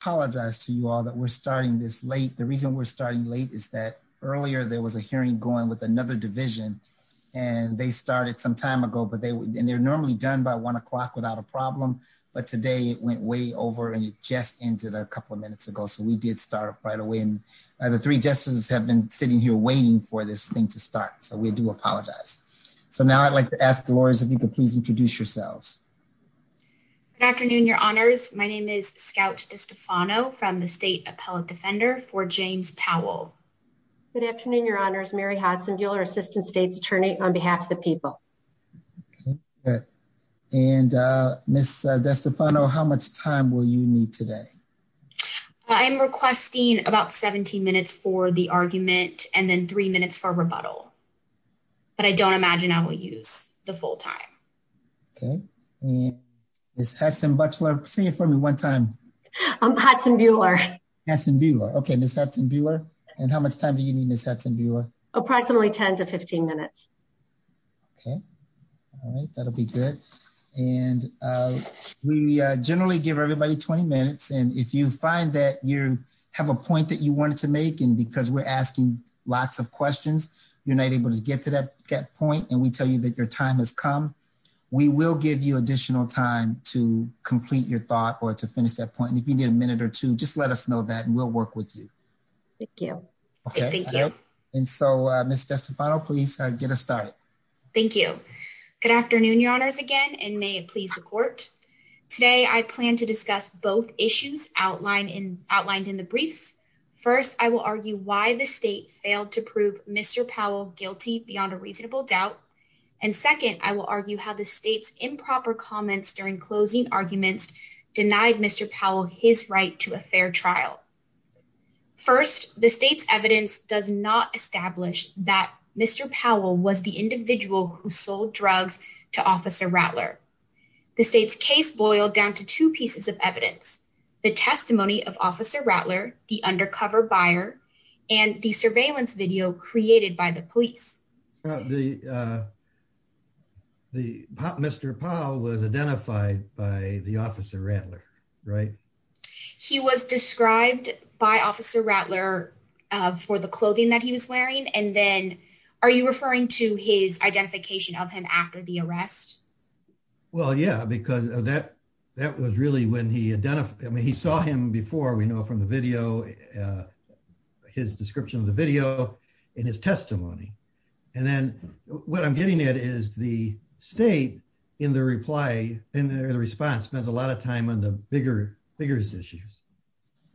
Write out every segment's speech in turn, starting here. apologize to you all that we're starting this late. The reason we're starting late is that earlier there was a hearing going with another division and they started some time ago but they and they're normally done by one o'clock without a problem but today it went way over and it just ended a couple of minutes ago so we did start right away and the three justices have been sitting here waiting for this thing to start so we do apologize. So now I'd like to ask the lawyers if you could please introduce yourselves. Good afternoon, your honors. My name is Scout DeStefano from the state appellate defender for James Powell. Good afternoon, your honors. Mary Hodson, dealer assistant state's attorney on behalf of the people. Okay, good. And Ms. DeStefano, how much time will you need today? I'm requesting about 17 minutes for the argument and then three minutes for rebuttal but I don't imagine I will use the full time. Okay, and Ms. Hudson-Butler, say it for me one time. I'm Hudson-Bueller. Hudson-Bueller. Okay, Ms. Hudson-Bueller. And how much time do you need, Ms. Hudson-Bueller? Approximately 10 to 15 minutes. Okay, all right, that'll be good. And we generally give everybody 20 minutes and if you find that you have a point that you wanted to make and because we're asking lots of questions you're not able to get to that point and we tell you that your time has come, we will give you additional time to complete your thought or to finish that point. If you need a minute or two, just let us know that and we'll work with you. Thank you. Okay, thank you. And so, Ms. DeStefano, please get us started. Thank you. Good afternoon, your honors, again and may it please the court. Today, I plan to discuss both issues outlined in the briefs. First, I will argue why the state failed to prove Mr. Powell guilty beyond a reasonable doubt. And second, I will argue how the state's improper comments during closing arguments denied Mr. Powell his right to a fair trial. First, the state's evidence does not establish that Mr. Powell was the individual who sold drugs to Officer Rattler. The state's case boiled down to two pieces of evidence. The testimony of Officer Rattler, the testimony of Mr. Powell, and the evidence of the surveillance video created by the police. Mr. Powell was identified by the Officer Rattler, right? He was described by Officer Rattler for the clothing that he was wearing and then, are you referring to his identification of him after the arrest? Well, yeah, because that was really when he saw him before, we know from the video, his description of the video in his testimony. And then, what I'm getting at is the state in the reply, in the response, spends a lot of time on the bigger issues,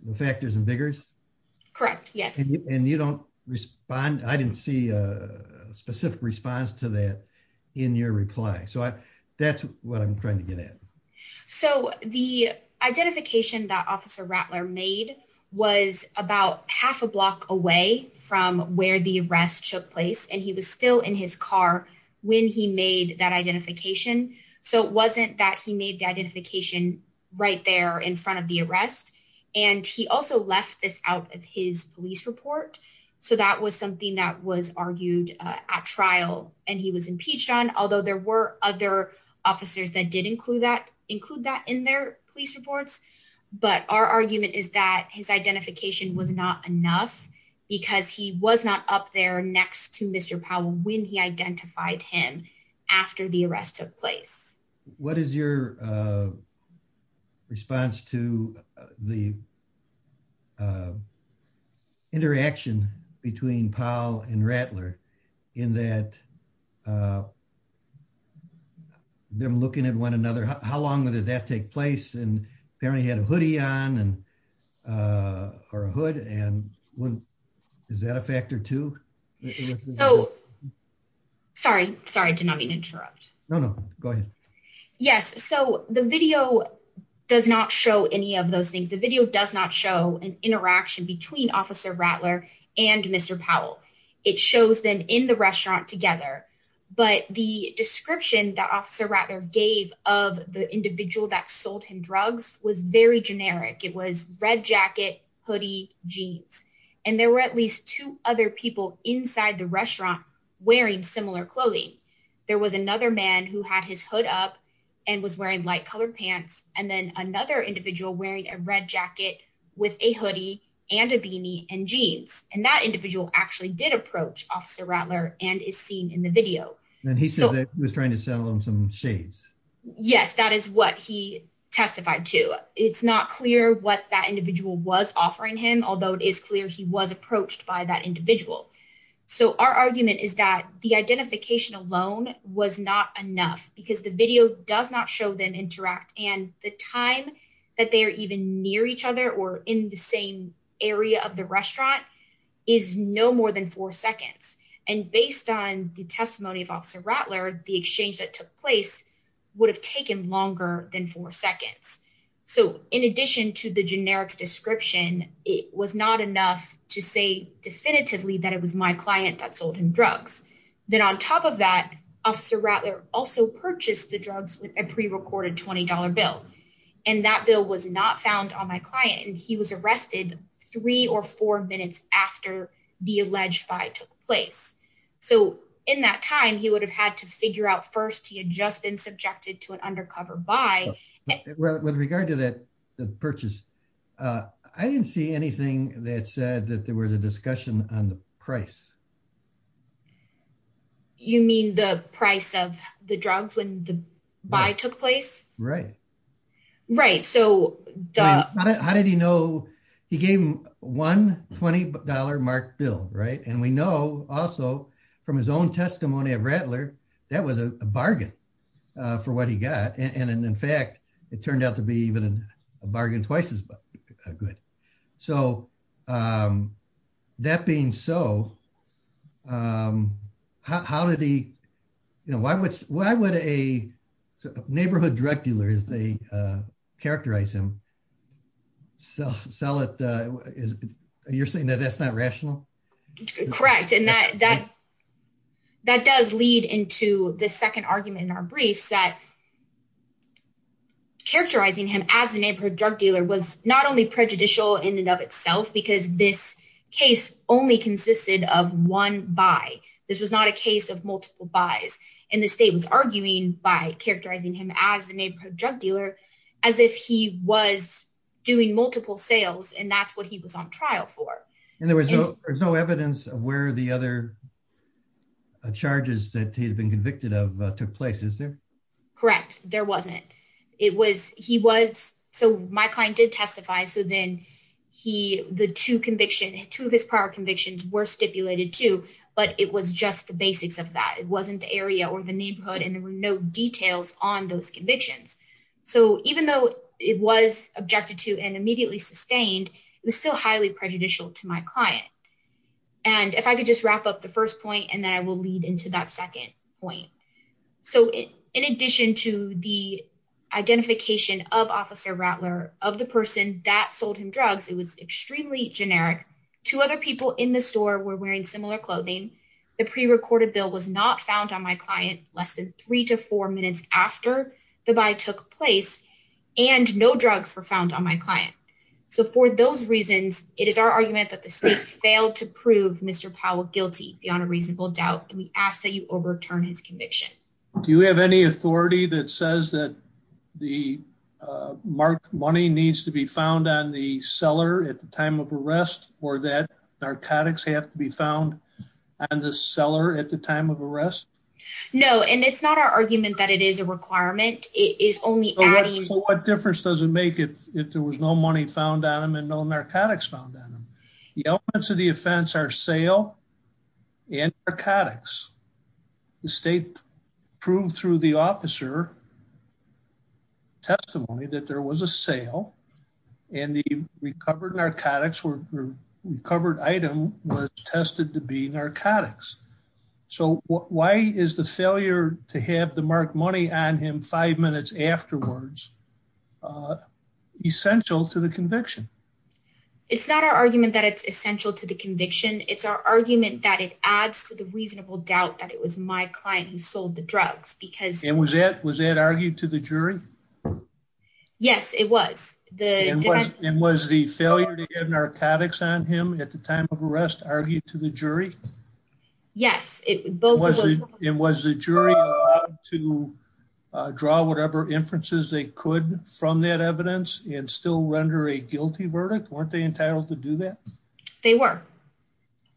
the factors and biggers? Correct, yes. And you don't respond, I didn't see a specific response to that in your reply. So, that's what I'm trying to get at. So, the identification that Officer Rattler made was about half a block away from where the arrest took place and he was still in his car when he made that identification. So, it wasn't that he made the identification right there in front of the arrest and he also left this out of his police report. So, that was something that was argued at trial and he was impeached on, although there were other officers that did include that in their police reports, but our argument is that his identification was not enough because he was not up there next to Mr. Powell when he identified him after the arrest took place. What is your response to the interaction between Powell and Rattler in that they're looking at one another? How long did that take place and apparently he had a hoodie on or a hood and is that a factor too? Sorry, sorry, did not mean to interrupt. No, no, go ahead. Yes, so the video does not show any of those things. The video does not show an interaction between Officer Rattler and Mr. Powell. It shows them in the restaurant together, but the description that Officer Rattler gave of the individual that sold him drugs was very generic. It was red jacket, hoodie, jeans and there were at least two other people inside the restaurant wearing similar clothing. There was another man who had his hood up and was wearing light-colored pants and then another individual wearing a red jacket with a hoodie and a beanie and jeans and that individual actually did approach Officer Rattler and is seen in the video. And he said that he was trying to sell him some shades. Yes, that is what he testified to. It's not clear what that individual was offering him, although it is clear he was approached by that individual. So our argument is that the identification alone was not enough because the video does not show them interact and the time that they are even near each other or in the same area of the restaurant is no more than four seconds. And based on the testimony of Officer Rattler, the exchange that took place would have taken longer than four seconds. So in addition to the generic description, it was not enough to say definitively that it was my client that sold him drugs. Then on top of that, Officer Rattler also purchased the drugs with a pre-recorded $20 bill. And that bill was not found on my client and he was arrested three or four minutes after the alleged buy took place. So in that time, he would have had to figure out first he had just been subjected to an undercover buy. With regard to that purchase, I didn't see anything that said that there was a discussion on the price. You mean the price of the drugs when the buy took place? Right. Right. So how did he know? He gave him one $20 marked bill, right? And we know also from his own testimony of Rattler, that was a bargain for what he got. And in fact, it turned out to be even a bargain twice good. So that being so, how did he, you know, why would a neighborhood drug dealer, as they characterize him, sell it? You're saying that that's not rational? Correct. And that does lead into the second argument in our briefs that characterizing him as the neighborhood drug dealer was not only prejudicial in and of itself because this case only consisted of one buy. This was not a case of multiple buys. And the state was arguing by characterizing him as a neighborhood drug dealer as if he was doing multiple sales and that's what he was on trial for. And there was no evidence of where the other charges that he had been convicted of took place, is there? Correct. There wasn't. It was, he was, so my client did testify. So then he, the two conviction, two of his prior convictions were stipulated too, but it was just the basics of that. It wasn't the area or the neighborhood and there were no details on those convictions. So even though it was objected to and immediately sustained, it was still highly prejudicial to my client. And if I could just wrap up the first point and then I will lead into that second point. So in addition to the identification of Officer Rattler, of the person that sold him drugs, it was extremely generic. Two other people in the store were wearing similar clothing. The pre-recorded bill was not found on my client less than three to four minutes after the buy took place and no drugs were found on my client. So for those reasons, it is our argument that the states failed to prove Mr. Powell guilty beyond a reasonable doubt and we ask that you overturn his conviction. Do you have any authority that says that the marked money needs to be found on the seller at the time of arrest or that narcotics have to be found on the seller at the time of arrest? No, and it's not our argument that it is a requirement. It is only adding. So what difference does it make if there was no money found on him and no narcotics found on him? The elements of the offense are sale and narcotics. The state proved through the officer testimony that there was a sale and the recovered narcotics were recovered item was tested to be narcotics. So why is the failure to have the marked money on him five minutes afterwards essential to the conviction? It's not our argument that it's essential to the conviction. It's our argument that it adds to the reasonable doubt that it was my client who sold the drugs. And was that argued to the jury? Yes, it was. And was the failure to have narcotics on him at the time of arrest argued to the jury? Yes. And was the jury allowed to draw whatever inferences they could from that evidence and still render a guilty verdict? Weren't they entitled to do that? They were.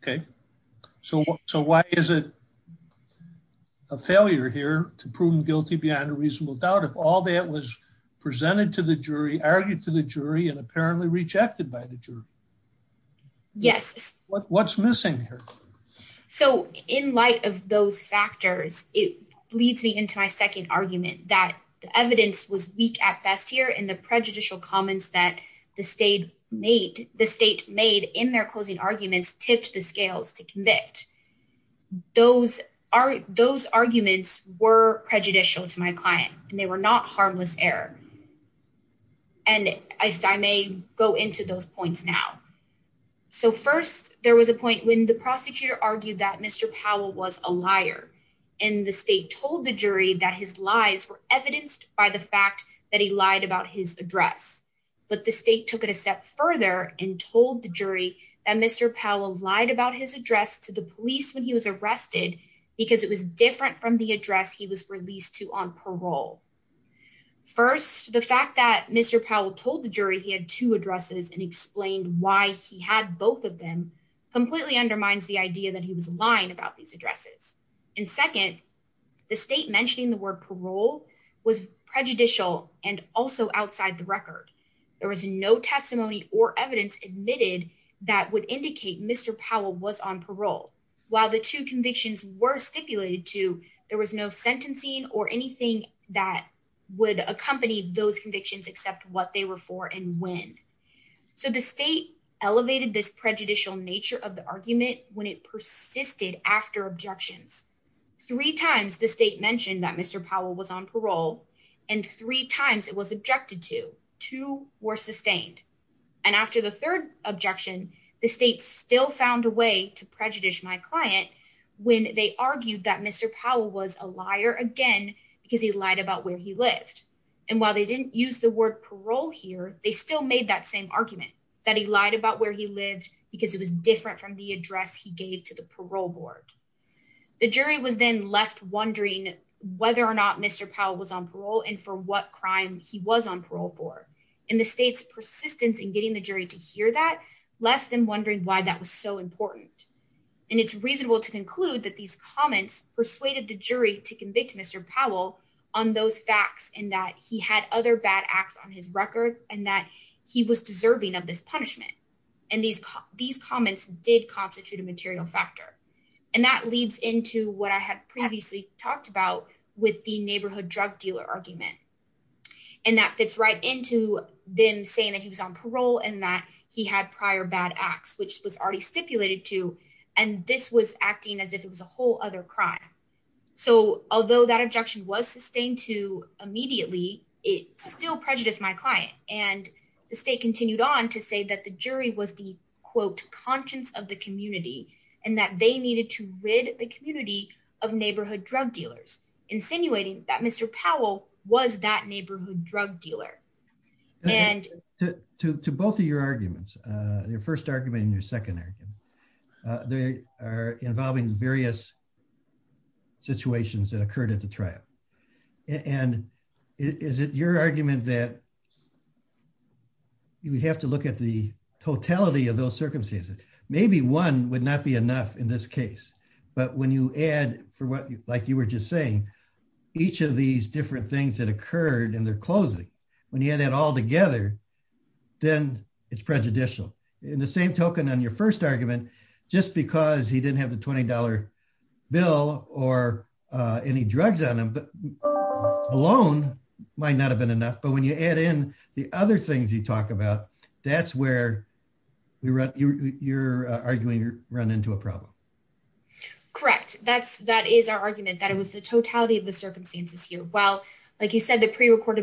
Okay, so why is it a failure here to prove guilty beyond a reasonable doubt if all that was presented to the jury, argued to the jury, and apparently rejected by the jury? Yes. What's missing here? So in light of those factors, it leads me into my second argument that the evidence was weak at best here and the prejudicial comments that the state made in their closing arguments tipped the scales to convict. Those arguments were prejudicial to my client and they were not So first there was a point when the prosecutor argued that Mr. Powell was a liar and the state told the jury that his lies were evidenced by the fact that he lied about his address. But the state took it a step further and told the jury that Mr. Powell lied about his address to the police when he was arrested because it was different from the address he was released to on parole. First, the fact that Mr. Powell told the jury he had two addresses and explained why he had both of them completely undermines the idea that he was lying about these addresses. And second, the state mentioning the word parole was prejudicial and also outside the record. There was no testimony or evidence admitted that would indicate Mr. Powell was on parole. While the two convictions were stipulated to, there was no sentencing or anything that would accompany those convictions what they were for and when. So the state elevated this prejudicial nature of the argument when it persisted after objections. Three times the state mentioned that Mr. Powell was on parole and three times it was objected to. Two were sustained. And after the third objection, the state still found a way to prejudice my client when they argued that Mr. Powell was a liar again because he lied about where he lived. And while they didn't use the word parole here, they still made that same argument that he lied about where he lived because it was different from the address he gave to the parole board. The jury was then left wondering whether or not Mr. Powell was on parole and for what crime he was on parole for. And the state's persistence in getting the jury to hear that left them wondering why that was so important. And it's reasonable to conclude that these comments persuaded the jury to convict Mr. Powell on those facts and that he had other bad acts on his record and that he was deserving of this punishment. And these comments did constitute a material factor. And that leads into what I had previously talked about with the neighborhood drug dealer argument. And that fits right into them saying that he was on parole and that he had prior bad acts which was already stipulated to and this was acting as if it was a whole other crime. So although that objection was sustained to immediately, it still prejudiced my client. And the state continued on to say that the jury was the quote conscience of the community and that they needed to rid the community of neighborhood drug dealers, insinuating that Mr. Powell was that neighborhood drug dealer. And to both of your arguments, your first argument and your second argument, they are involving various situations that occurred at the trial. And is it your argument that you would have to look at the totality of those circumstances? Maybe one would not be enough in this case, but when you add for what like you were just saying, each of these different things that occurred in their closing, when you add it all together, then it's prejudicial. In the same token on your first argument, just because he didn't have the $20 bill or any drugs on him alone might not have been enough. But when you add in the other things you talk about, that's where you're arguing you run into a problem. Correct. That is our argument that it was the totality of the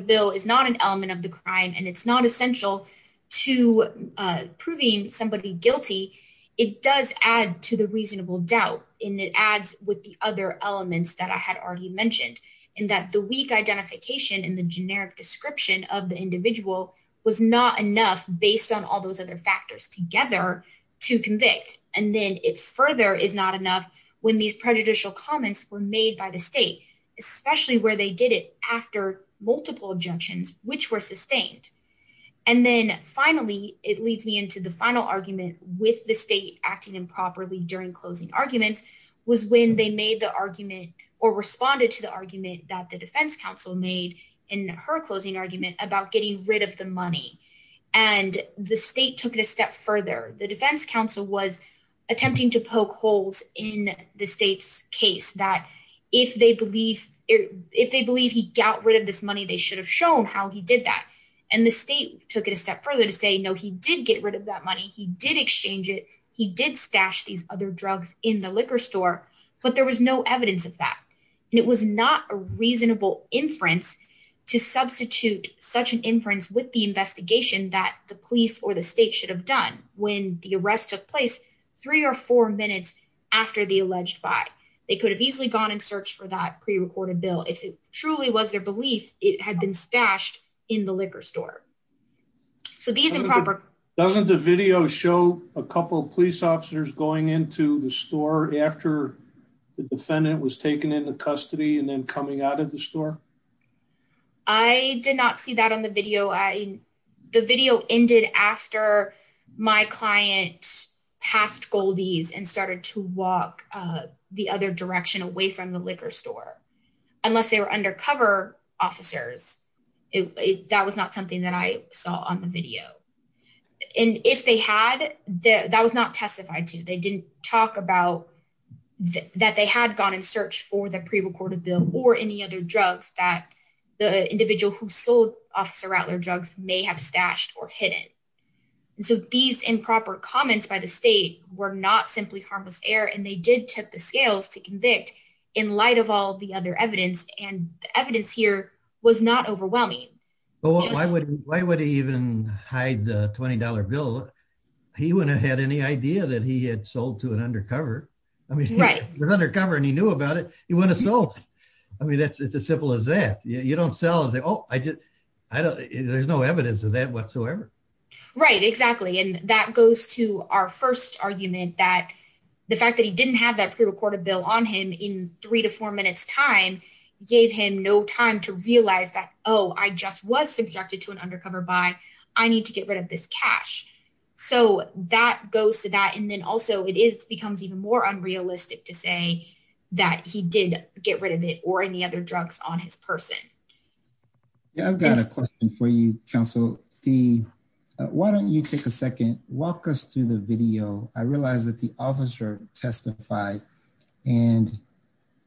bill is not an element of the crime and it's not essential to proving somebody guilty. It does add to the reasonable doubt and it adds with the other elements that I had already mentioned in that the weak identification and the generic description of the individual was not enough based on all those other factors together to convict. And then it further is not enough when these prejudicial comments were made by the state, especially where they did it after multiple objections which were sustained. And then finally, it leads me into the final argument with the state acting improperly during closing arguments was when they made the argument or responded to the argument that the defense counsel made in her closing argument about getting rid of the money. And the state took it a step further. The defense counsel was attempting to poke holes in the state's if they believe he got rid of this money, they should have shown how he did that. And the state took it a step further to say, no, he did get rid of that money. He did exchange it. He did stash these other drugs in the liquor store, but there was no evidence of that. And it was not a reasonable inference to substitute such an inference with the investigation that the police or the state should have done when the arrest took place three or four minutes after the alleged buy. They could have easily gone and searched for that pre-recorded bill. If it truly was their belief, it had been stashed in the liquor store. So these improper... Doesn't the video show a couple of police officers going into the store after the defendant was taken into custody and then coming out of the store? I did not see that on the video. The video ended after my client passed Goldie's and started to walk the other direction away from the liquor store. Unless they were undercover officers, that was not something that I saw on the video. And if they had, that was not testified to. They didn't talk about that they had gone in search for the pre-recorded bill or any other drugs that the individual who sold Officer Rattler drugs may have stashed or hidden. So these improper comments by the state were not simply harmless error and they did take the scales to convict in light of all the other evidence and the evidence here was not overwhelming. Well, why would he even hide the $20 bill? He wouldn't have had any idea that he had sold to an undercover. I mean, he was undercover and he knew about it. He wouldn't have sold. I mean, it's as simple as that. You know, there's no evidence of that whatsoever. Right, exactly. And that goes to our first argument that the fact that he didn't have that pre-recorded bill on him in three to four minutes time gave him no time to realize that, oh, I just was subjected to an undercover buy. I need to get rid of this cash. So that goes to that and then also it is becomes even more unrealistic to say that he did get rid of it or any other on his person. Yeah, I've got a question for you, counsel. Why don't you take a second, walk us through the video. I realize that the officer testified and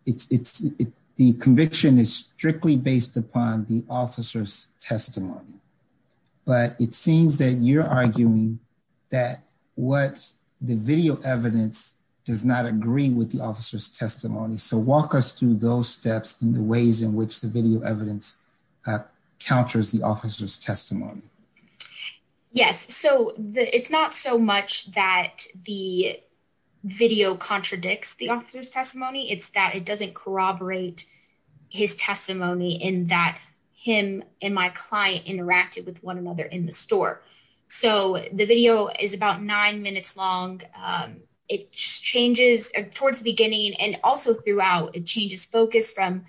the conviction is strictly based upon the officer's testimony, but it seems that you're arguing that what the video evidence does not agree with the officer's testimony. So walk us through those steps and the ways in which the video evidence counters the officer's testimony. Yes, so it's not so much that the video contradicts the officer's testimony, it's that it doesn't corroborate his testimony in that him and my client interacted with one another in the store. So the video is about nine minutes long. It changes towards the beginning and also throughout it changes focus from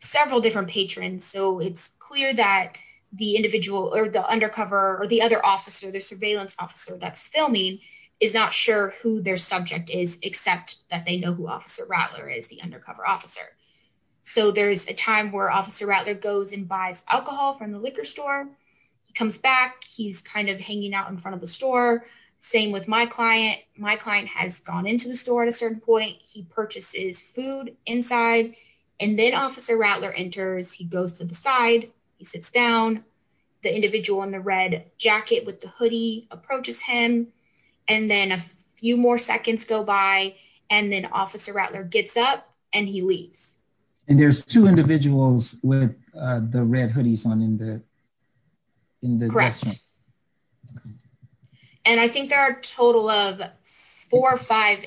several different patrons. So it's clear that the individual or the undercover or the other officer, the surveillance officer that's filming is not sure who their subject is, except that they know who Officer Rattler is, the undercover officer. So there's a time where Officer Rattler goes and buys alcohol from the liquor store. He comes back, he's kind of hanging out in front of the store. Same with my client. My client has gone into the store at a certain point. He purchases food inside and then Officer Rattler enters. He goes to the side, he sits down. The individual in the red jacket with the hoodie approaches him and then a few more seconds go by and then Officer Rattler gets up and he leaves. And there's two individuals with the red hoodies on in the restaurant. Correct. And I think there are a total of four or five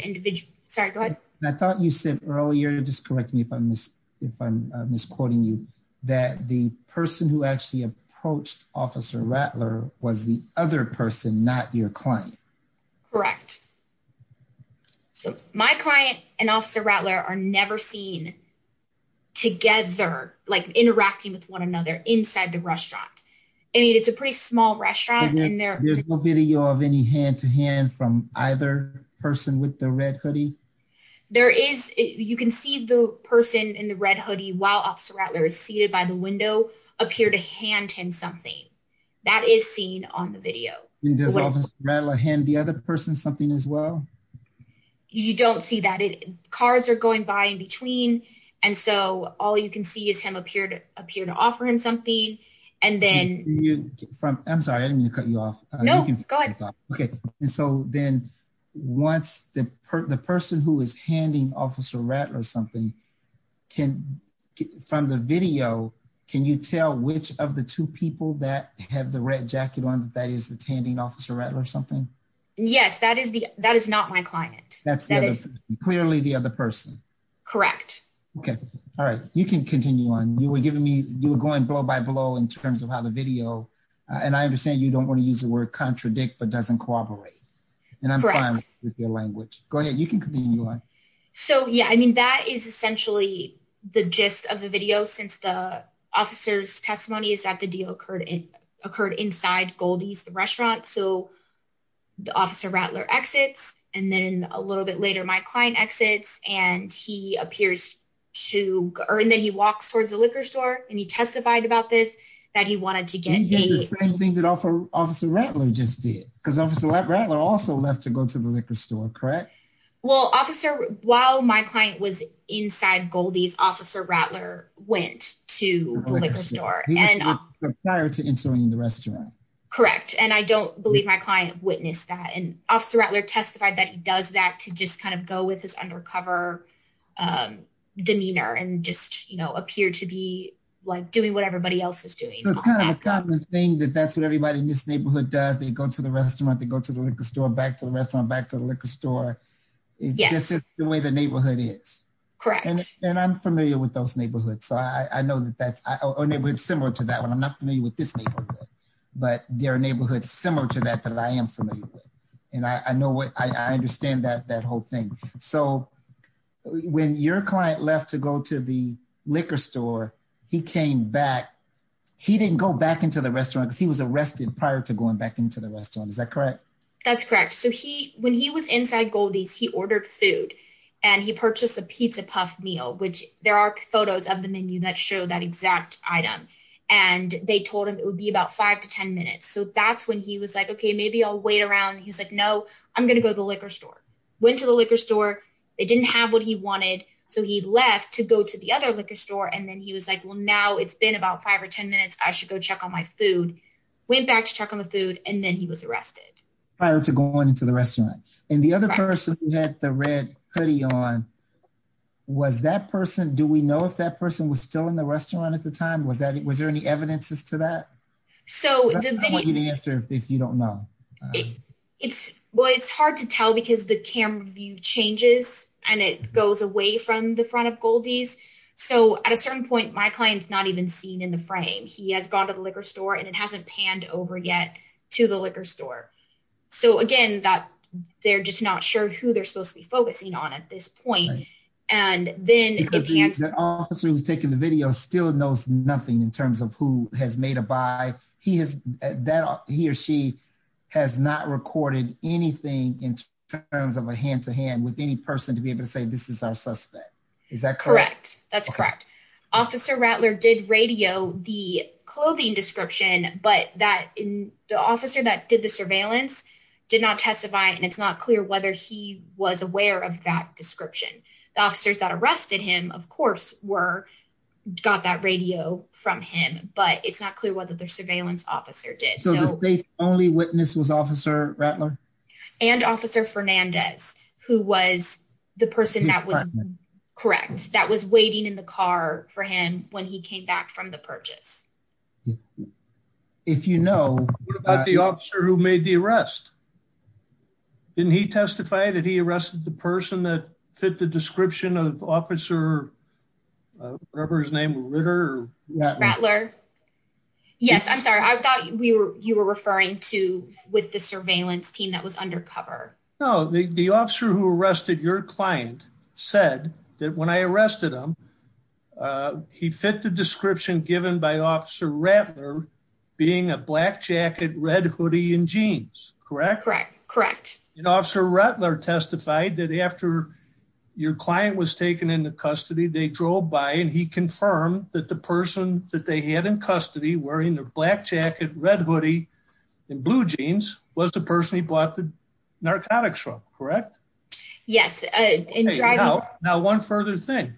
Sorry, go ahead. I thought you said earlier, just correct me if I'm misquoting you, that the person who actually approached Officer Rattler was the other person, not your client. Correct. So my client and Officer Rattler are never seen together, like interacting with one another inside the restaurant. I mean, it's a pretty small restaurant. There's no video of any hand-to-hand from either person with the red hoodie. There is. You can see the person in the red hoodie while Officer Rattler is seated by the window appear to hand him something. That is seen on the video. Does Officer Rattler hand the other person something as well? You don't see that. Cards are going by in between and so all you can see is him appear to appear to offer him something and then... I'm sorry, I didn't mean to Then once the person who is handing Officer Rattler something can, from the video, can you tell which of the two people that have the red jacket on that is handing Officer Rattler something? Yes, that is not my client. That's clearly the other person. Correct. Okay, all right. You can continue on. You were giving me you were going blow by blow in terms of how the video, and I understand you don't want to use the word contradict, but doesn't cooperate. And I'm fine with your language. Go ahead, you can continue on. So yeah, I mean that is essentially the gist of the video since the officer's testimony is that the deal occurred in occurred inside Goldie's, the restaurant. So the Officer Rattler exits and then a little bit later my client exits and he appears to... and then he walks towards the liquor store and he testified about this that he wanted to get paid. The same thing that Officer Rattler just did because Officer Rattler also left to go to the liquor store, correct? Well, Officer, while my client was inside Goldie's, Officer Rattler went to the liquor store. He was tired of entering the restaurant. Correct, and I don't believe my client witnessed that and Officer Rattler testified that he does that to just kind of go with his undercover demeanor and just, you know, appear to be like doing what everybody else is doing. It's kind of a common thing that that's what everybody in this neighborhood does. They go to the restaurant, they go to the liquor store, back to the restaurant, back to the liquor store. It's just the way the neighborhood is. Correct. And I'm familiar with those neighborhoods, so I know that that's a neighborhood similar to that one. I'm not familiar with this neighborhood, but there are neighborhoods similar to that that I am familiar with and I know what... I understand that whole thing. So when your client left to go to the liquor store, he didn't go back into the restaurant because he was arrested prior to going back into the restaurant. Is that correct? That's correct. So when he was inside Goldie's, he ordered food and he purchased a pizza puff meal, which there are photos of the menu that show that exact item, and they told him it would be about five to ten minutes. So that's when he was like, okay, maybe I'll wait around. He's like, no, I'm going to go to the liquor store. Went to the liquor store, they didn't have what he wanted, so he left to go to the other liquor store and then he was like, well, now it's been about five or ten minutes, I should go check on my food. Went back to check on the food and then he was arrested. Prior to going into the restaurant. And the other person who had the red hoodie on, was that person... do we know if that person was still in the restaurant at the time? Was there any evidences to that? So the video... I want you to answer if you don't know. It's hard to tell because the camera view changes and it goes away from the front of Goldie's. So at a certain point, my client's not even seen in the frame. He has gone to the liquor store and it hasn't panned over yet to the liquor store. So again, they're just not sure who they're supposed to be focusing on at this point. And then... Because the officer who's taking the video still knows nothing in terms of who has made a buy. He or she has not recorded anything in terms of a hand-to-hand with any person to be able to say this is our suspect. Is that correct? Correct. That's correct. Officer Rattler did radio the clothing description, but the officer that did the surveillance did not testify and it's not clear whether he was aware of that description. The officers that arrested him, of course, got that radio from him, but it's not clear whether their surveillance officer did. So the only witness was Officer Rattler? And Officer Fernandez, who was the person that was correct, that was waiting in the car for him when he came back from the purchase. If you know... What about the officer who made the arrest? Didn't he testify that he arrested the person that fit the description of officer, whatever his name, Ritter? Rattler. Yes, I'm sorry. I thought you were referring to with the surveillance team that was said that when I arrested him, he fit the description given by Officer Rattler being a black jacket, red hoodie, and jeans. Correct? Correct. And Officer Rattler testified that after your client was taken into custody, they drove by and he confirmed that the person that they had in custody wearing the black jacket, red hoodie, and blue jeans was the person he bought the Yes. Now, one further thing.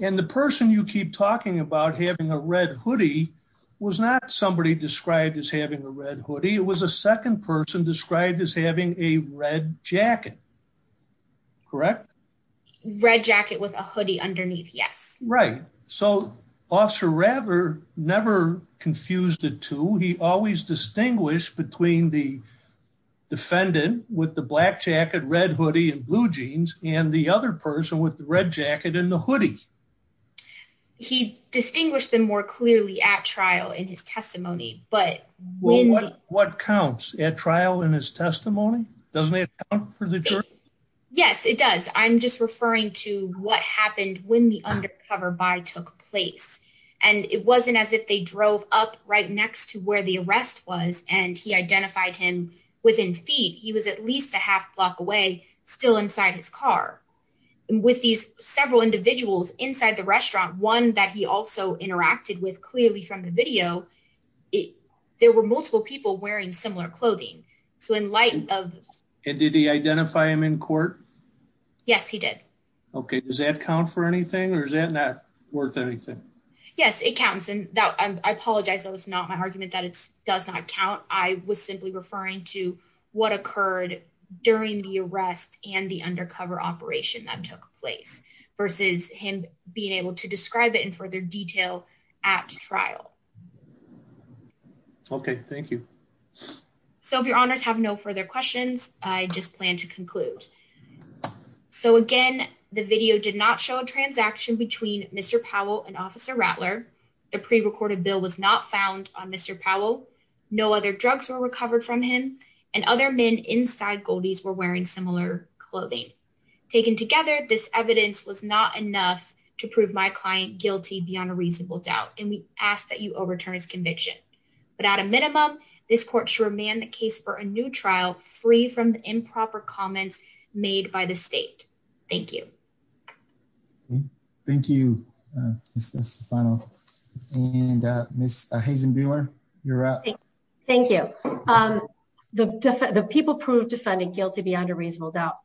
And the person you keep talking about having a red hoodie was not somebody described as having a red hoodie. It was a second person described as having a red jacket. Correct? Red jacket with a hoodie underneath. Yes. Right. So Officer Rattler never confused the two. He always distinguished between the defendant with the black jacket, red hoodie, and blue jeans and the other person with the red jacket and the hoodie. He distinguished them more clearly at trial in his testimony. But what counts at trial in his testimony? Doesn't it count for the jury? Yes, it does. I'm just referring to what happened when the undercover buy took place. And it wasn't as if they drove up right next to where the arrest was and he identified him within feet. He was at least a half block away still inside his car with these several individuals inside the restaurant, one that he also interacted with clearly from the video. There were multiple people wearing similar clothing. So in light of it, did he identify him in court? Yes, he did. Okay. Does that count for anything or is that not worth anything? Yes, it counts. And that I apologize. That was not my argument that it does not count. I was simply referring to what occurred during the arrest and the undercover operation that took place versus him being able to describe it in further detail at trial. Okay, thank you. So if your honors have no further questions, I just plan to conclude. So again, the video did not show a transaction between Mr Powell and Officer Rattler. The pre recorded bill was not found on Mr. Powell. No other drugs were recovered from him. And other men inside Goldies were wearing similar clothing. Taken together. This evidence was not enough to prove my client guilty beyond a reasonable doubt. And we ask that you overturn his conviction. But at a minimum, this court should remain the case for a new trial free from the improper comments made by the state. Thank you. Thank you. Uh, this this final and uh, Miss Hazen Bueller, you're up. Thank you. Um, the people proved defending guilty beyond a reasonable doubt.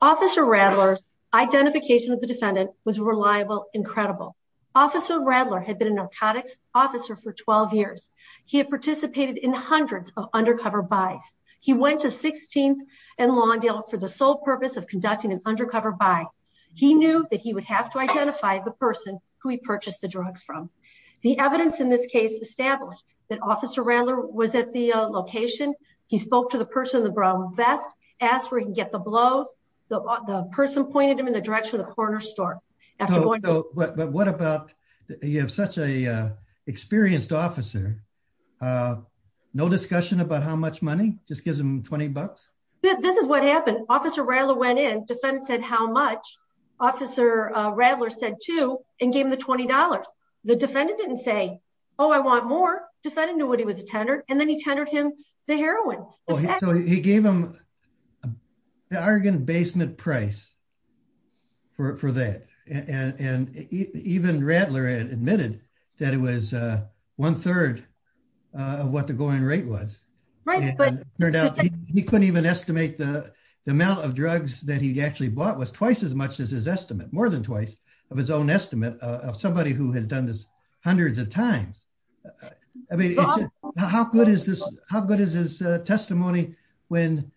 Officer Rattler's identification with the defendant was reliable, incredible. Officer Rattler had been a narcotics officer for 12 years. He had participated in hundreds of undercover buys. He went to 16th and Lawndale for the sole purpose of conducting an undercover buy. He knew that would have to identify the person who he purchased the drugs from. The evidence in this case established that Officer Rattler was at the location. He spoke to the person in the brown vest, asked where he can get the blows. The person pointed him in the direction of the corner store. After going, but what about you have such a experienced officer? Uh, no discussion about how much money just gives him 20 bucks. This is what happened. Officer Rattler went in. Defendant said how much officer Rattler said to and gave him the $20. The defendant didn't say, oh, I want more defendant knew what he was a tenor. And then he tendered him the heroin. He gave him the Argonne basement price for for that. And even Rattler had admitted that it was a one third of what the going rate was, but it turned out he couldn't even estimate the amount of drugs that he actually bought was twice as much as his estimate more than twice of his own estimate of somebody who has done this hundreds of times. I mean, how good is this? How good is his testimony when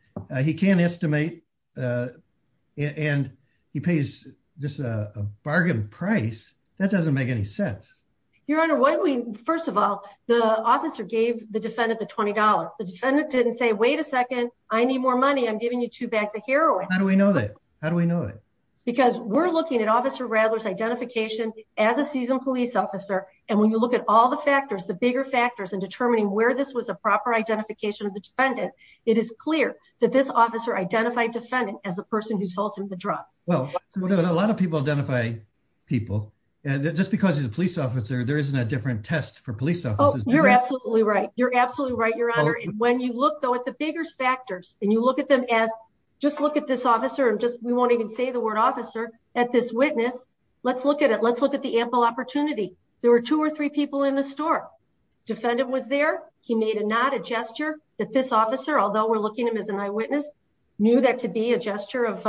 he can't estimate and he pays just a bargain price that doesn't make any sense. Your honor, why don't we first of all the officer gave the defendant the $20. The defendant didn't say, wait a second. I need more money. I'm giving you two bags of heroin. How do we know that? How do we know that? Because we're looking at officer Rattler's identification as a seasoned police officer. And when you look at all the factors, the bigger factors in determining where this was a proper identification of the defendant, it is clear that this officer identified defendant as a person who sold him the drugs. Well, a lot of people identify people and just because he's a police officer, there isn't a different test for police officers. You're absolutely right, your honor. And when you look though at the biggest factors and you look at them as just look at this officer and just we won't even say the word officer at this witness. Let's look at it. Let's look at the ample opportunity. There were two or three people in the store. Defendant was there. He made a not a gesture that this officer, although we're looking at him as an eyewitness, knew that to be a gesture of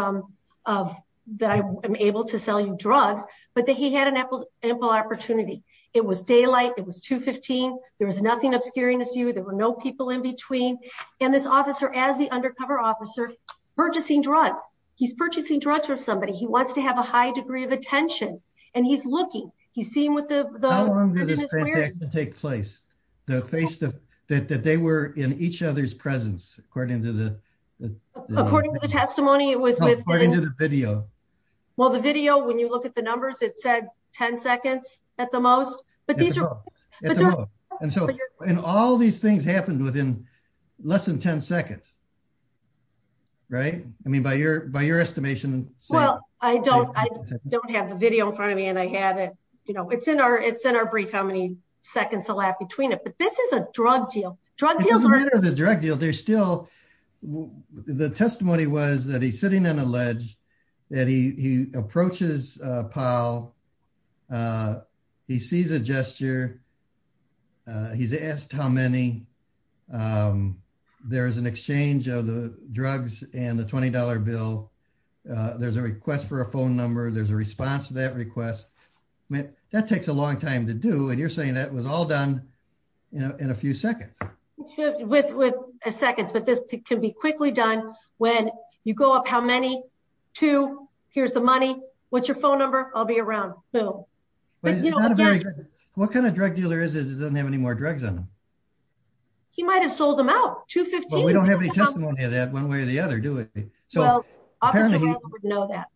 of that I'm able to sell you drugs, but that he had an ample opportunity. It was daylight. It was 215. There was nothing obscuring you. There were no people in between and this officer as the undercover officer purchasing drugs. He's purchasing drugs for somebody. He wants to have a high degree of attention and he's looking. He's seeing what the how long it is to take place the face that they were in each other's presence. According to the according to the testimony, it was according to the video. Well, the video when you look at the numbers, it said 10 seconds at the most, but these at the most and so and all these things happened within less than 10 seconds. Right? I mean, by your by your estimation. Well, I don't I don't have the video in front of me and I had it, you know, it's in our it's in our brief. How many seconds a lap between it, but this is a drug deal drug deals are under the drug deal. There's still the testimony was that he's sitting on a ledge that he he approaches Paul. He sees a gesture. He's asked how many there is an exchange of the drugs and the $20 bill. There's a request for a phone number. There's a response to that request. I mean that takes a long time to do and you're saying that was all done, you know in a few seconds with with a seconds, but this can be quickly done when you go up how many to here's the money. What's your phone number? I'll be around. What kind of drug dealer is it doesn't have any more drugs on him. He might have sold them out to 15. We don't have any testimony of that one way or the other do it. So apparently he wouldn't know that.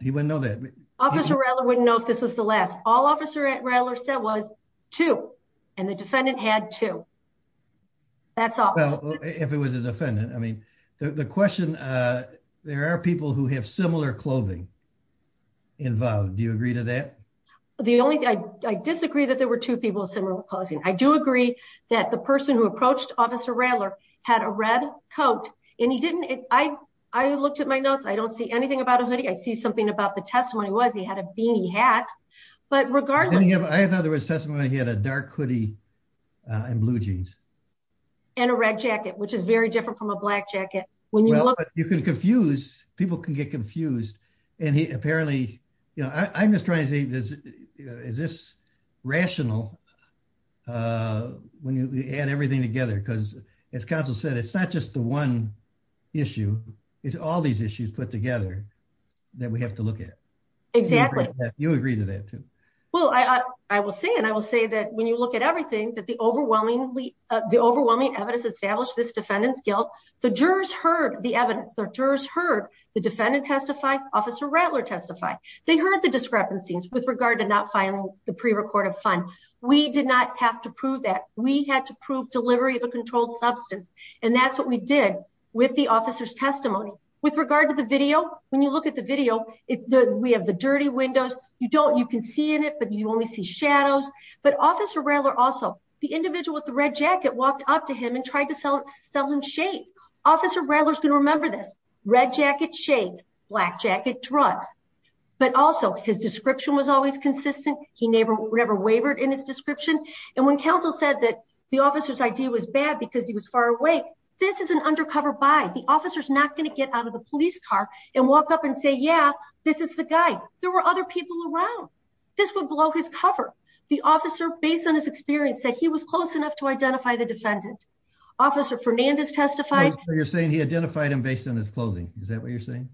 He wouldn't know that officer Reller wouldn't know if this was the last all officer at Reller said was two and the defendant had to that's all if it was a defendant. I mean the question there are people who have similar clothing involved. Do you agree to that? The only thing I disagree that there were two people with similar clothing. I do agree that the person who approached officer Reller had a red coat and he didn't. I I looked at my notes. I don't see anything about a hoodie. I see something about the testimony was he had a beanie hat, but regardless, I thought there was testimony. He had a dark hoodie and blue jeans and a red jacket, which is very different from a black confused and he apparently, you know, I'm just trying to say this is this rational when you add everything together because as council said, it's not just the one issue. It's all these issues put together that we have to look at exactly you agree to that too. Well, II will say and I will say that when you look at everything that the overwhelmingly the overwhelming evidence established this defendant's guilt, the jurors heard the evidence the jurors heard the defendant testify officer Rattler testified. They heard the discrepancies with regard to not filing the pre recorded fund. We did not have to prove that we had to prove delivery of a controlled substance and that's what we did with the officer's testimony with regard to the video. When you look at the video, we have the dirty windows. You don't you can see in it, but you only see shadows, but officer Reller also the individual with the red jacket walked up to him and tried to sell him shades. Officer Reller is going to jacket shades black jacket drugs, but also his description was always consistent. He never ever wavered in his description and when council said that the officer's idea was bad because he was far away. This is an undercover by the officer's not going to get out of the police car and walk up and say yeah. This is the guy there were other people around this would blow his cover. The officer based on his experience said he was close enough to identify the defendant officer Fernandez testified. You're saying he that what you're saying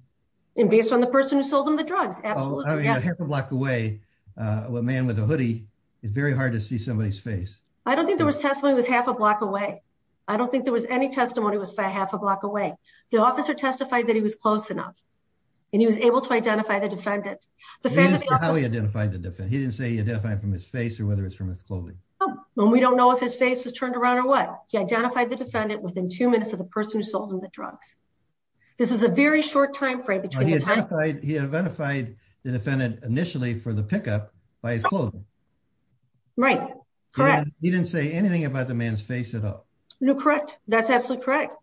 and based on the person who sold him the drugs. Absolutely. I mean a half a block away a man with a hoodie. It's very hard to see somebody's face. I don't think there was testimony was half a block away. I don't think there was any testimony was by half a block away. The officer testified that he was close enough and he was able to identify the defendant the family how he identified the defense. He didn't say he identified from his face or whether it's from his clothing. Oh, we don't know if his face was turned around or what he identified the defendant within 2 minutes of the person who sold him the drugs. This is a very short time frame between the time he identified the defendant initially for the pickup by his clothing. He didn't say anything about the man's face at all. No, correct. That's absolutely correct.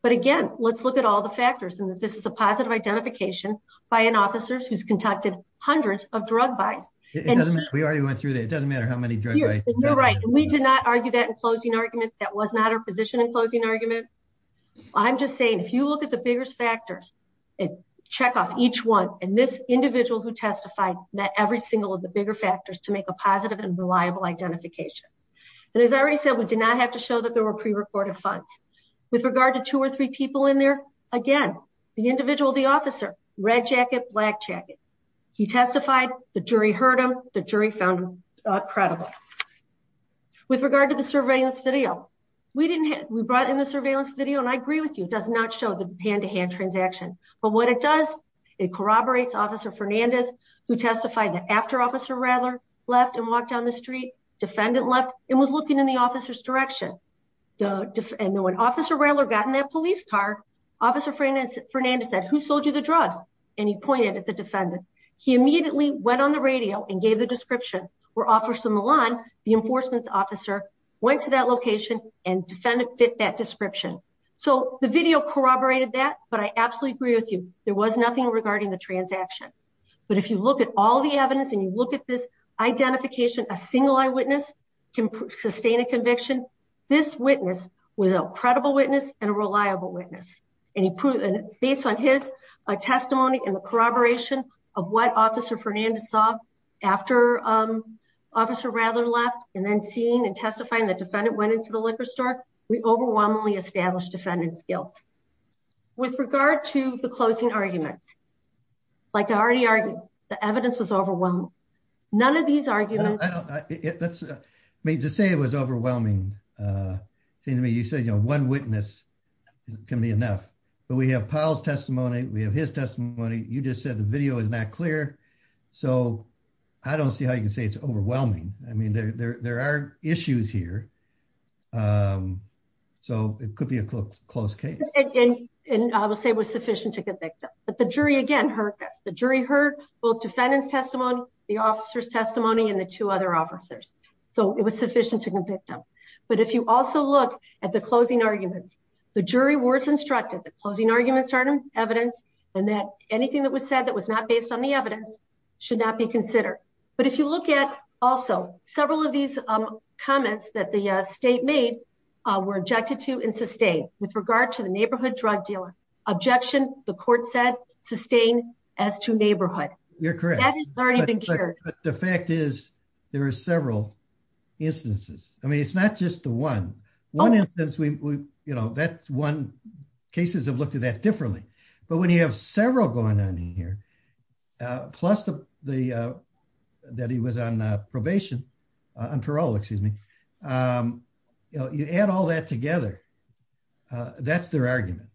But again, let's look at all the factors and that this is a positive identification by an officer who's conducted hundreds of drug buys. It doesn't matter. We already went through that. It doesn't matter how many drugs you're right and we did not argue that in closing argument. That was not our position in closing argument. I'm just saying if you look at the biggest factors and check off each one and this individual who testified that every single of the bigger factors to make a positive and reliable identification and as I already said, we did not have to show that there were pre-recorded funds with regard to two or three people in there. Again, the individual, the officer, red jacket, black jacket. He testified the jury heard him. The jury found him credible with regard to the surveillance video. We didn't we brought in the surveillance video and I agree with you does not show hand-to-hand transaction. But what it does, it corroborates officer Fernandez who testified that after officer Rattler left and walked down the street, defendant left and was looking in the officer's direction. And when officer Rattler got in that police car, officer Fernandez said, who sold you the drugs? And he pointed at the defendant. He immediately went on the radio and gave the description where officer Milan, the enforcement's officer, went to that location and defendant fit that description. So the video corroborated that but I absolutely agree with you. There was nothing regarding the transaction. But if you look at all the evidence and you look at this identification, a single eyewitness can sustain a conviction. This witness was a credible witness and a reliable witness and he based on his testimony and the corroboration of what officer Fernandez saw after officer Rattler left and then seeing and testifying the defendant went into the liquor store. We overwhelmingly established defendant's guilt. With regard to the closing arguments, like I already argued, the evidence was overwhelmed. None of these arguments. I mean, to say it was overwhelming, uh, seemed to me you said, you know, one witness can be enough, but we have Powell's testimony. We have his testimony. You just said the video is not clear. So I don't see how you can say it's overwhelming. I mean, there are issues here. Um, so it could be a close case and I will say it was sufficient to convict him. But the jury again hurt us. The jury heard both defendant's testimony, the officer's testimony and the two other officers. So it was sufficient to convict him. But if you also look at the closing arguments, the jury words instructed the closing arguments are evidence and that anything that was said that was not based on the evidence should not be considered. But if you look at also several of these, um, comments that the state made, uh, were injected to and sustained with regard to the neighborhood drug dealer objection, the court said sustained as to neighborhood. You're correct. That has already been cured. The fact is there are several instances. I mean, it's not just the one one instance we, you know, that's one cases have looked at that differently. But when you have several going on in here, uh, plus the, the, uh, that he was on probation, uh, on parole, excuse me. Um, you know, you add all that together, uh, that's their argument.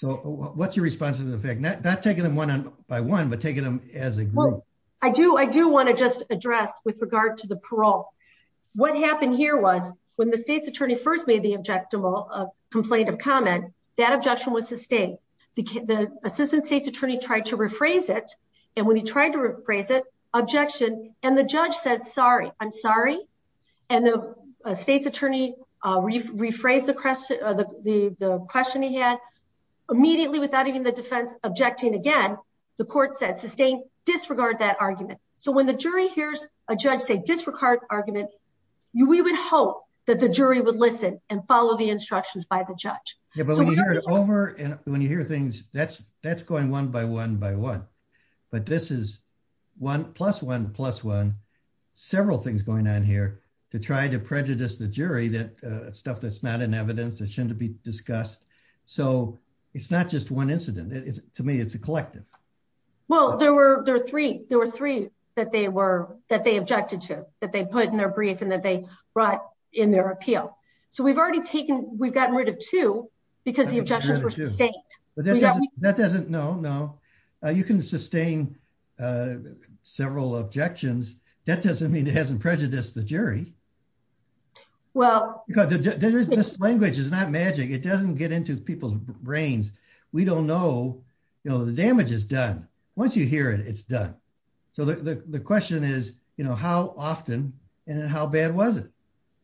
So what's your response to the fact that not taking them one by one, but taking them as a group. I do. I do want to just address with regard to the parole. What happened here was when the state's attorney first made the objective complaint of objection was sustained. The assistant state's attorney tried to rephrase it. And when he tried to rephrase it objection and the judge says, sorry, I'm sorry. And the state's attorney, uh, re rephrase the question or the, the, the question he had immediately without even the defense objecting. Again, the court says sustained disregard that argument. So when the jury hears a judge say disregard argument, you, we would hope that the jury would listen and over. And when you hear things that's, that's going one by one by one, but this is one plus one plus one, several things going on here to try to prejudice the jury that, uh, stuff that's not an evidence that shouldn't be discussed. So it's not just one incident. It's to me, it's a collective. Well, there were three, there were three that they were, that they objected to that they put in their brief and that they brought in their appeal. So we've already taken, we've because the objections were sustained, but that doesn't, no, no. Uh, you can sustain, uh, several objections. That doesn't mean it hasn't prejudiced the jury. Well, because this language is not magic. It doesn't get into people's brains. We don't know, you know, the damage is done once you hear it, it's done. So the, the question is, you know, how often and how bad was it?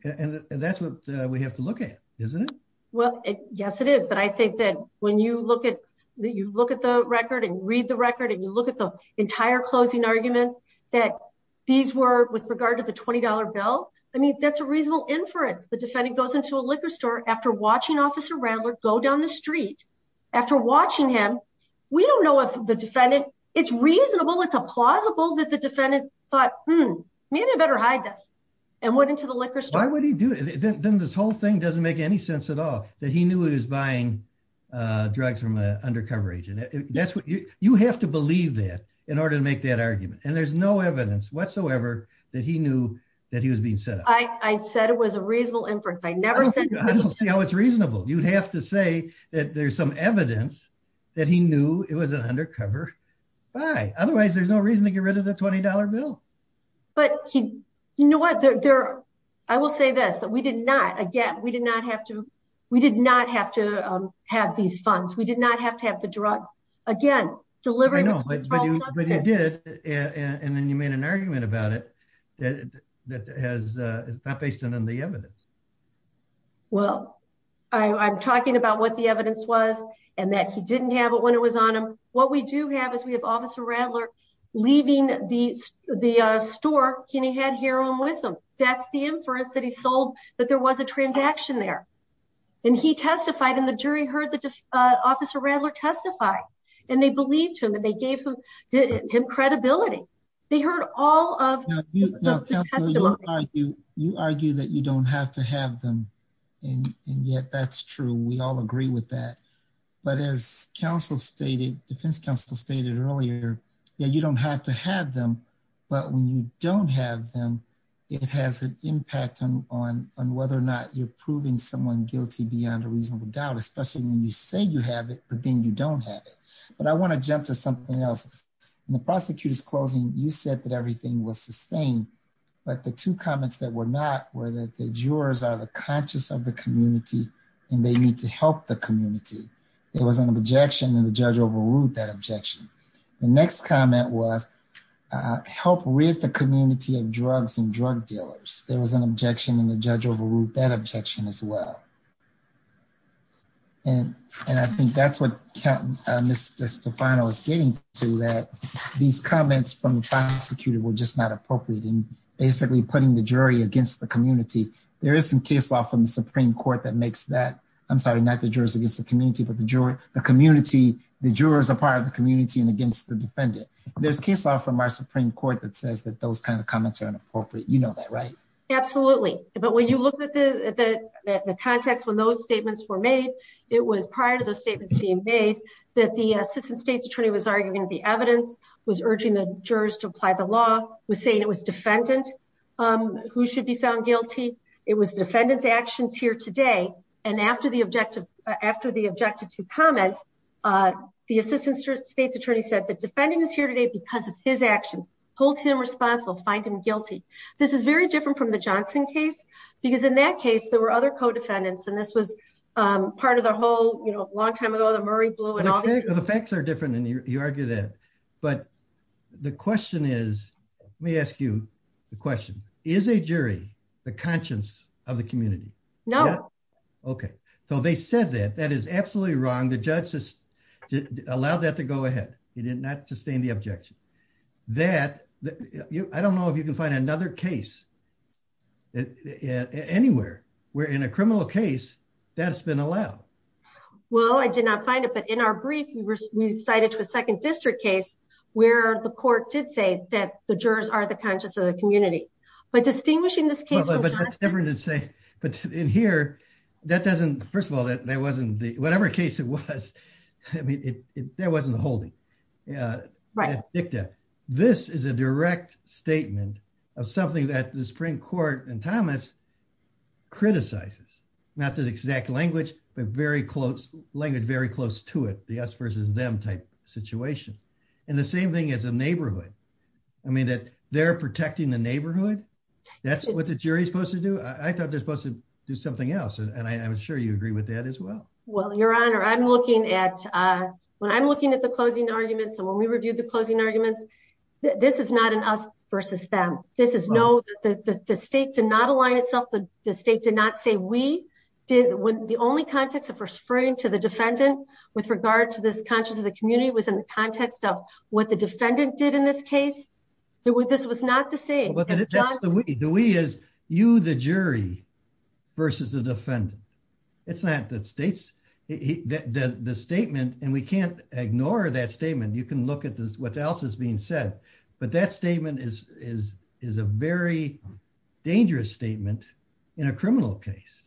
And that's what we have to look at. Isn't it? Well, yes, it is. But I think that when you look at, you look at the record and read the record and you look at the entire closing arguments that these were with regard to the $20 bill. I mean, that's a reasonable inference. The defendant goes into a liquor store after watching officer Randler go down the street after watching him. We don't know if the defendant it's reasonable. It's a plausible that the defendant thought, Hmm, maybe I better hide this and went into the liquor store. Then this whole thing doesn't make any sense at all that he knew he was buying drugs from an undercover agent. That's what you have to believe that in order to make that argument. And there's no evidence whatsoever that he knew that he was being set up. I said it was a reasonable inference. I never said I don't see how it's reasonable. You'd have to say that there's some evidence that he knew it was an undercover buy. Otherwise there's no reason to get rid of the $20 bill. But you know what? I will say this that we did not. Again, we did not have to. We did not have to have these funds. We did not have to have the drug again delivering. No, but you did. And then you made an argument about it that has not based on the evidence. Well, I'm talking about what the evidence was and that he didn't have it when it was on him. What we do have is we have officer Randler leaving the store and he had here on with him. That's the inference that he sold that there was a transaction there. And he testified in the jury heard the officer Randler testify and they believed him and they gave him credibility. They heard all of you. You argue that you don't have to have them. And yet that's true. We all agree with that. But as counsel stated, defense counsel stated earlier, you don't have to have them. But when you don't have them, it has an impact on on whether or not you're proving someone guilty beyond a reasonable doubt, especially when you say you have it, but then you don't have it. But I want to jump to something else. And the prosecutor's closing, you said that everything was sustained. But the two comments that were not were that the jurors are the conscious of the community and they need to help the community. It was an objection and the judge overrule that objection. The next comment was help with the community of drugs and drug dealers. There was an objection and the judge overruled that objection as well. And and I think that's what Mr Stefano is getting to that these comments from the prosecutor were just not appropriate and basically putting the jury against the community. There is some case law from the Supreme Court that makes that I'm sorry, not the jurors against the community, but the jury, the community. The jurors are part of the community and against the defendant. There's case law from our Supreme Court that says that those kind of comments are inappropriate. You know that, right? Absolutely. But when you look at the context when those statements were made, it was prior to the statements being made that the assistant state's attorney was arguing the evidence was urging the jurors to apply the law was saying it was defendant who should be found guilty. It was defendant's actions here today. And after the objective, after the objective to comments, the assistant state's attorney said, the defendant is here today because of his actions. Hold him responsible. Find him guilty. This is very different from the Johnson case because in that case, there were other co-defendants and this was part of the whole, you know, long time ago, the Murray Blue and all the facts are different and you argue that. But the question is, let me ask you the question, is a jury the Okay. So they said that that is absolutely wrong. The judge just allowed that to go ahead. He did not sustain the objection that I don't know if you can find another case anywhere where in a criminal case that's been allowed. Well, I did not find it. But in our brief, we were, we cited to a second district case where the court did say that the jurors are the conscious of the community. But distinguishing But that's different to say, but in here, that doesn't, first of all, that wasn't the whatever case it was. I mean, there wasn't a holding. Yeah, right. This is a direct statement of something that the Supreme Court and Thomas criticizes, not the exact language, but very close language, very close to it, the us versus them type situation. And the same thing as a neighborhood. I mean, that protecting the neighborhood. That's what the jury is supposed to do. I thought they're supposed to do something else. And I'm sure you agree with that as well. Well, Your Honor, I'm looking at when I'm looking at the closing arguments, and when we reviewed the closing arguments, this is not an us versus them. This is no, the state did not align itself, the state did not say we did when the only context of referring to the defendant with regard to this conscious of the community was in the context of what the the state did. Well, that's the we. The we is you, the jury versus the defendant. It's not the states, the statement, and we can't ignore that statement. You can look at this, what else is being said, but that statement is a very dangerous statement in a criminal case,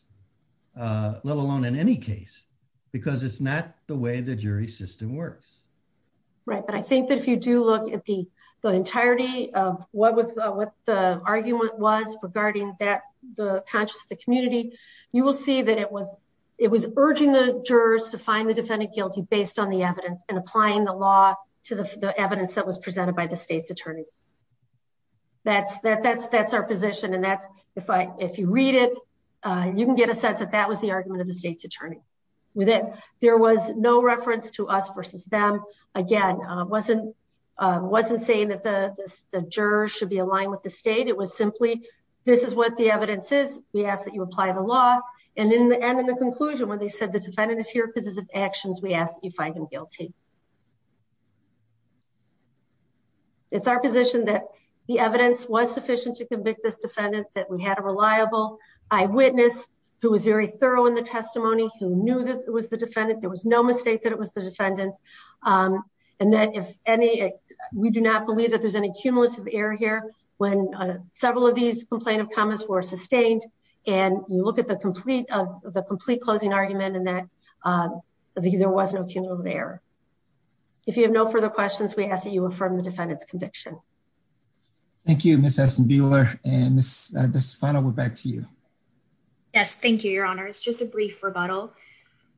let alone in any case, because it's not the way the jury system works. Right. But I think that if you do look at the entirety of what the argument was regarding that the conscious of the community, you will see that it was urging the jurors to find the defendant guilty based on the evidence and applying the law to the evidence that was presented by the state's attorneys. That's our position, and that's if you read it, you can get a sense that that was the argument of the state's attorney. With it, there was no reference to us versus them. Again, wasn't wasn't saying that the jurors should be aligned with the state. It was simply this is what the evidence is. We ask that you apply the law and in the end, in the conclusion, when they said the defendant is here because of actions, we ask that you find him guilty. It's our position that the evidence was sufficient to convict this defendant, that we had a reliable eyewitness who was very thorough in the testimony, who knew that it was the defendant. There was no mistake that it was the and that if any, we do not believe that there's any cumulative error here. When several of these complaint of comments were sustained and you look at the complete of the complete closing argument and that there was no cumulative error. If you have no further questions, we ask that you affirm the defendant's conviction. Thank you, Miss S and Beeler and this final word back to you. Yes, thank you, Your Honor. It's just a brief rebuttal.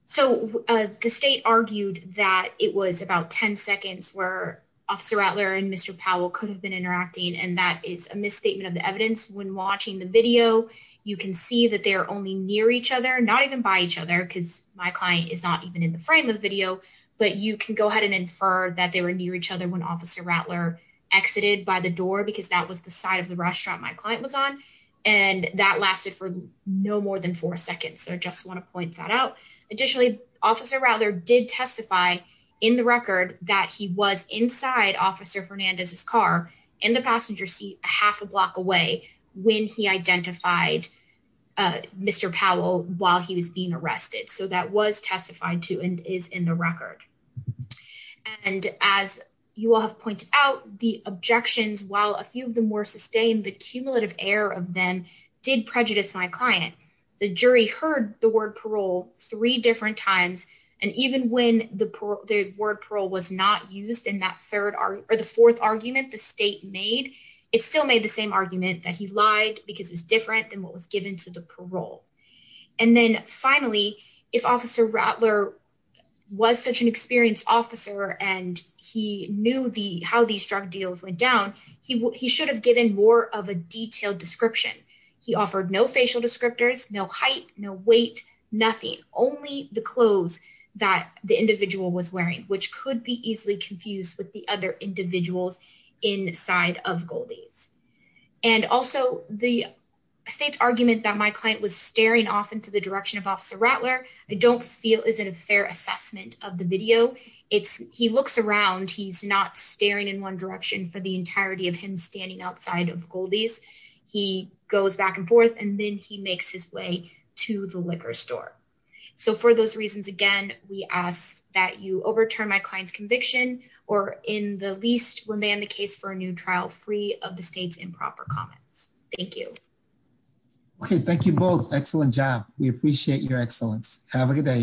So the state argued that it was about 10 seconds where Officer Rattler and Mr Powell could have been interacting and that is a misstatement of the evidence. When watching the video, you can see that they're only near each other, not even by each other because my client is not even in the frame of the video, but you can go ahead and infer that they were near each other when Officer Rattler exited by the door because that was the side of the restaurant my client was on and that lasted for no more than four seconds. So I just want to point that Additionally, Officer Rattler did testify in the record that he was inside Officer Fernandez's car in the passenger seat half a block away when he identified Mr Powell while he was being arrested. So that was testified to and is in the record and as you all have pointed out the objections while a few of them were sustained, the cumulative error of them did prejudice my client. The jury heard the word parole three different times and even when the word parole was not used in that third or the fourth argument the state made, it still made the same argument that he lied because it's different than what was given to the parole. And then finally, if Officer Rattler was such an experienced officer and he knew the how these drug deals went down, he should have given more of a detailed description. He offered no only the clothes that the individual was wearing, which could be easily confused with the other individuals inside of Goldie's and also the state's argument that my client was staring off into the direction of Officer Rattler. I don't feel isn't a fair assessment of the video. It's he looks around. He's not staring in one direction for the entirety of him standing outside of Goldie's. He goes back and forth and then he makes his way to the liquor store. So for those reasons, again, we ask that you overturn my client's conviction or in the least remand the case for a new trial free of the state's improper comments. Thank you. Okay. Thank you both. Excellent job. We appreciate your excellence. Have a good day.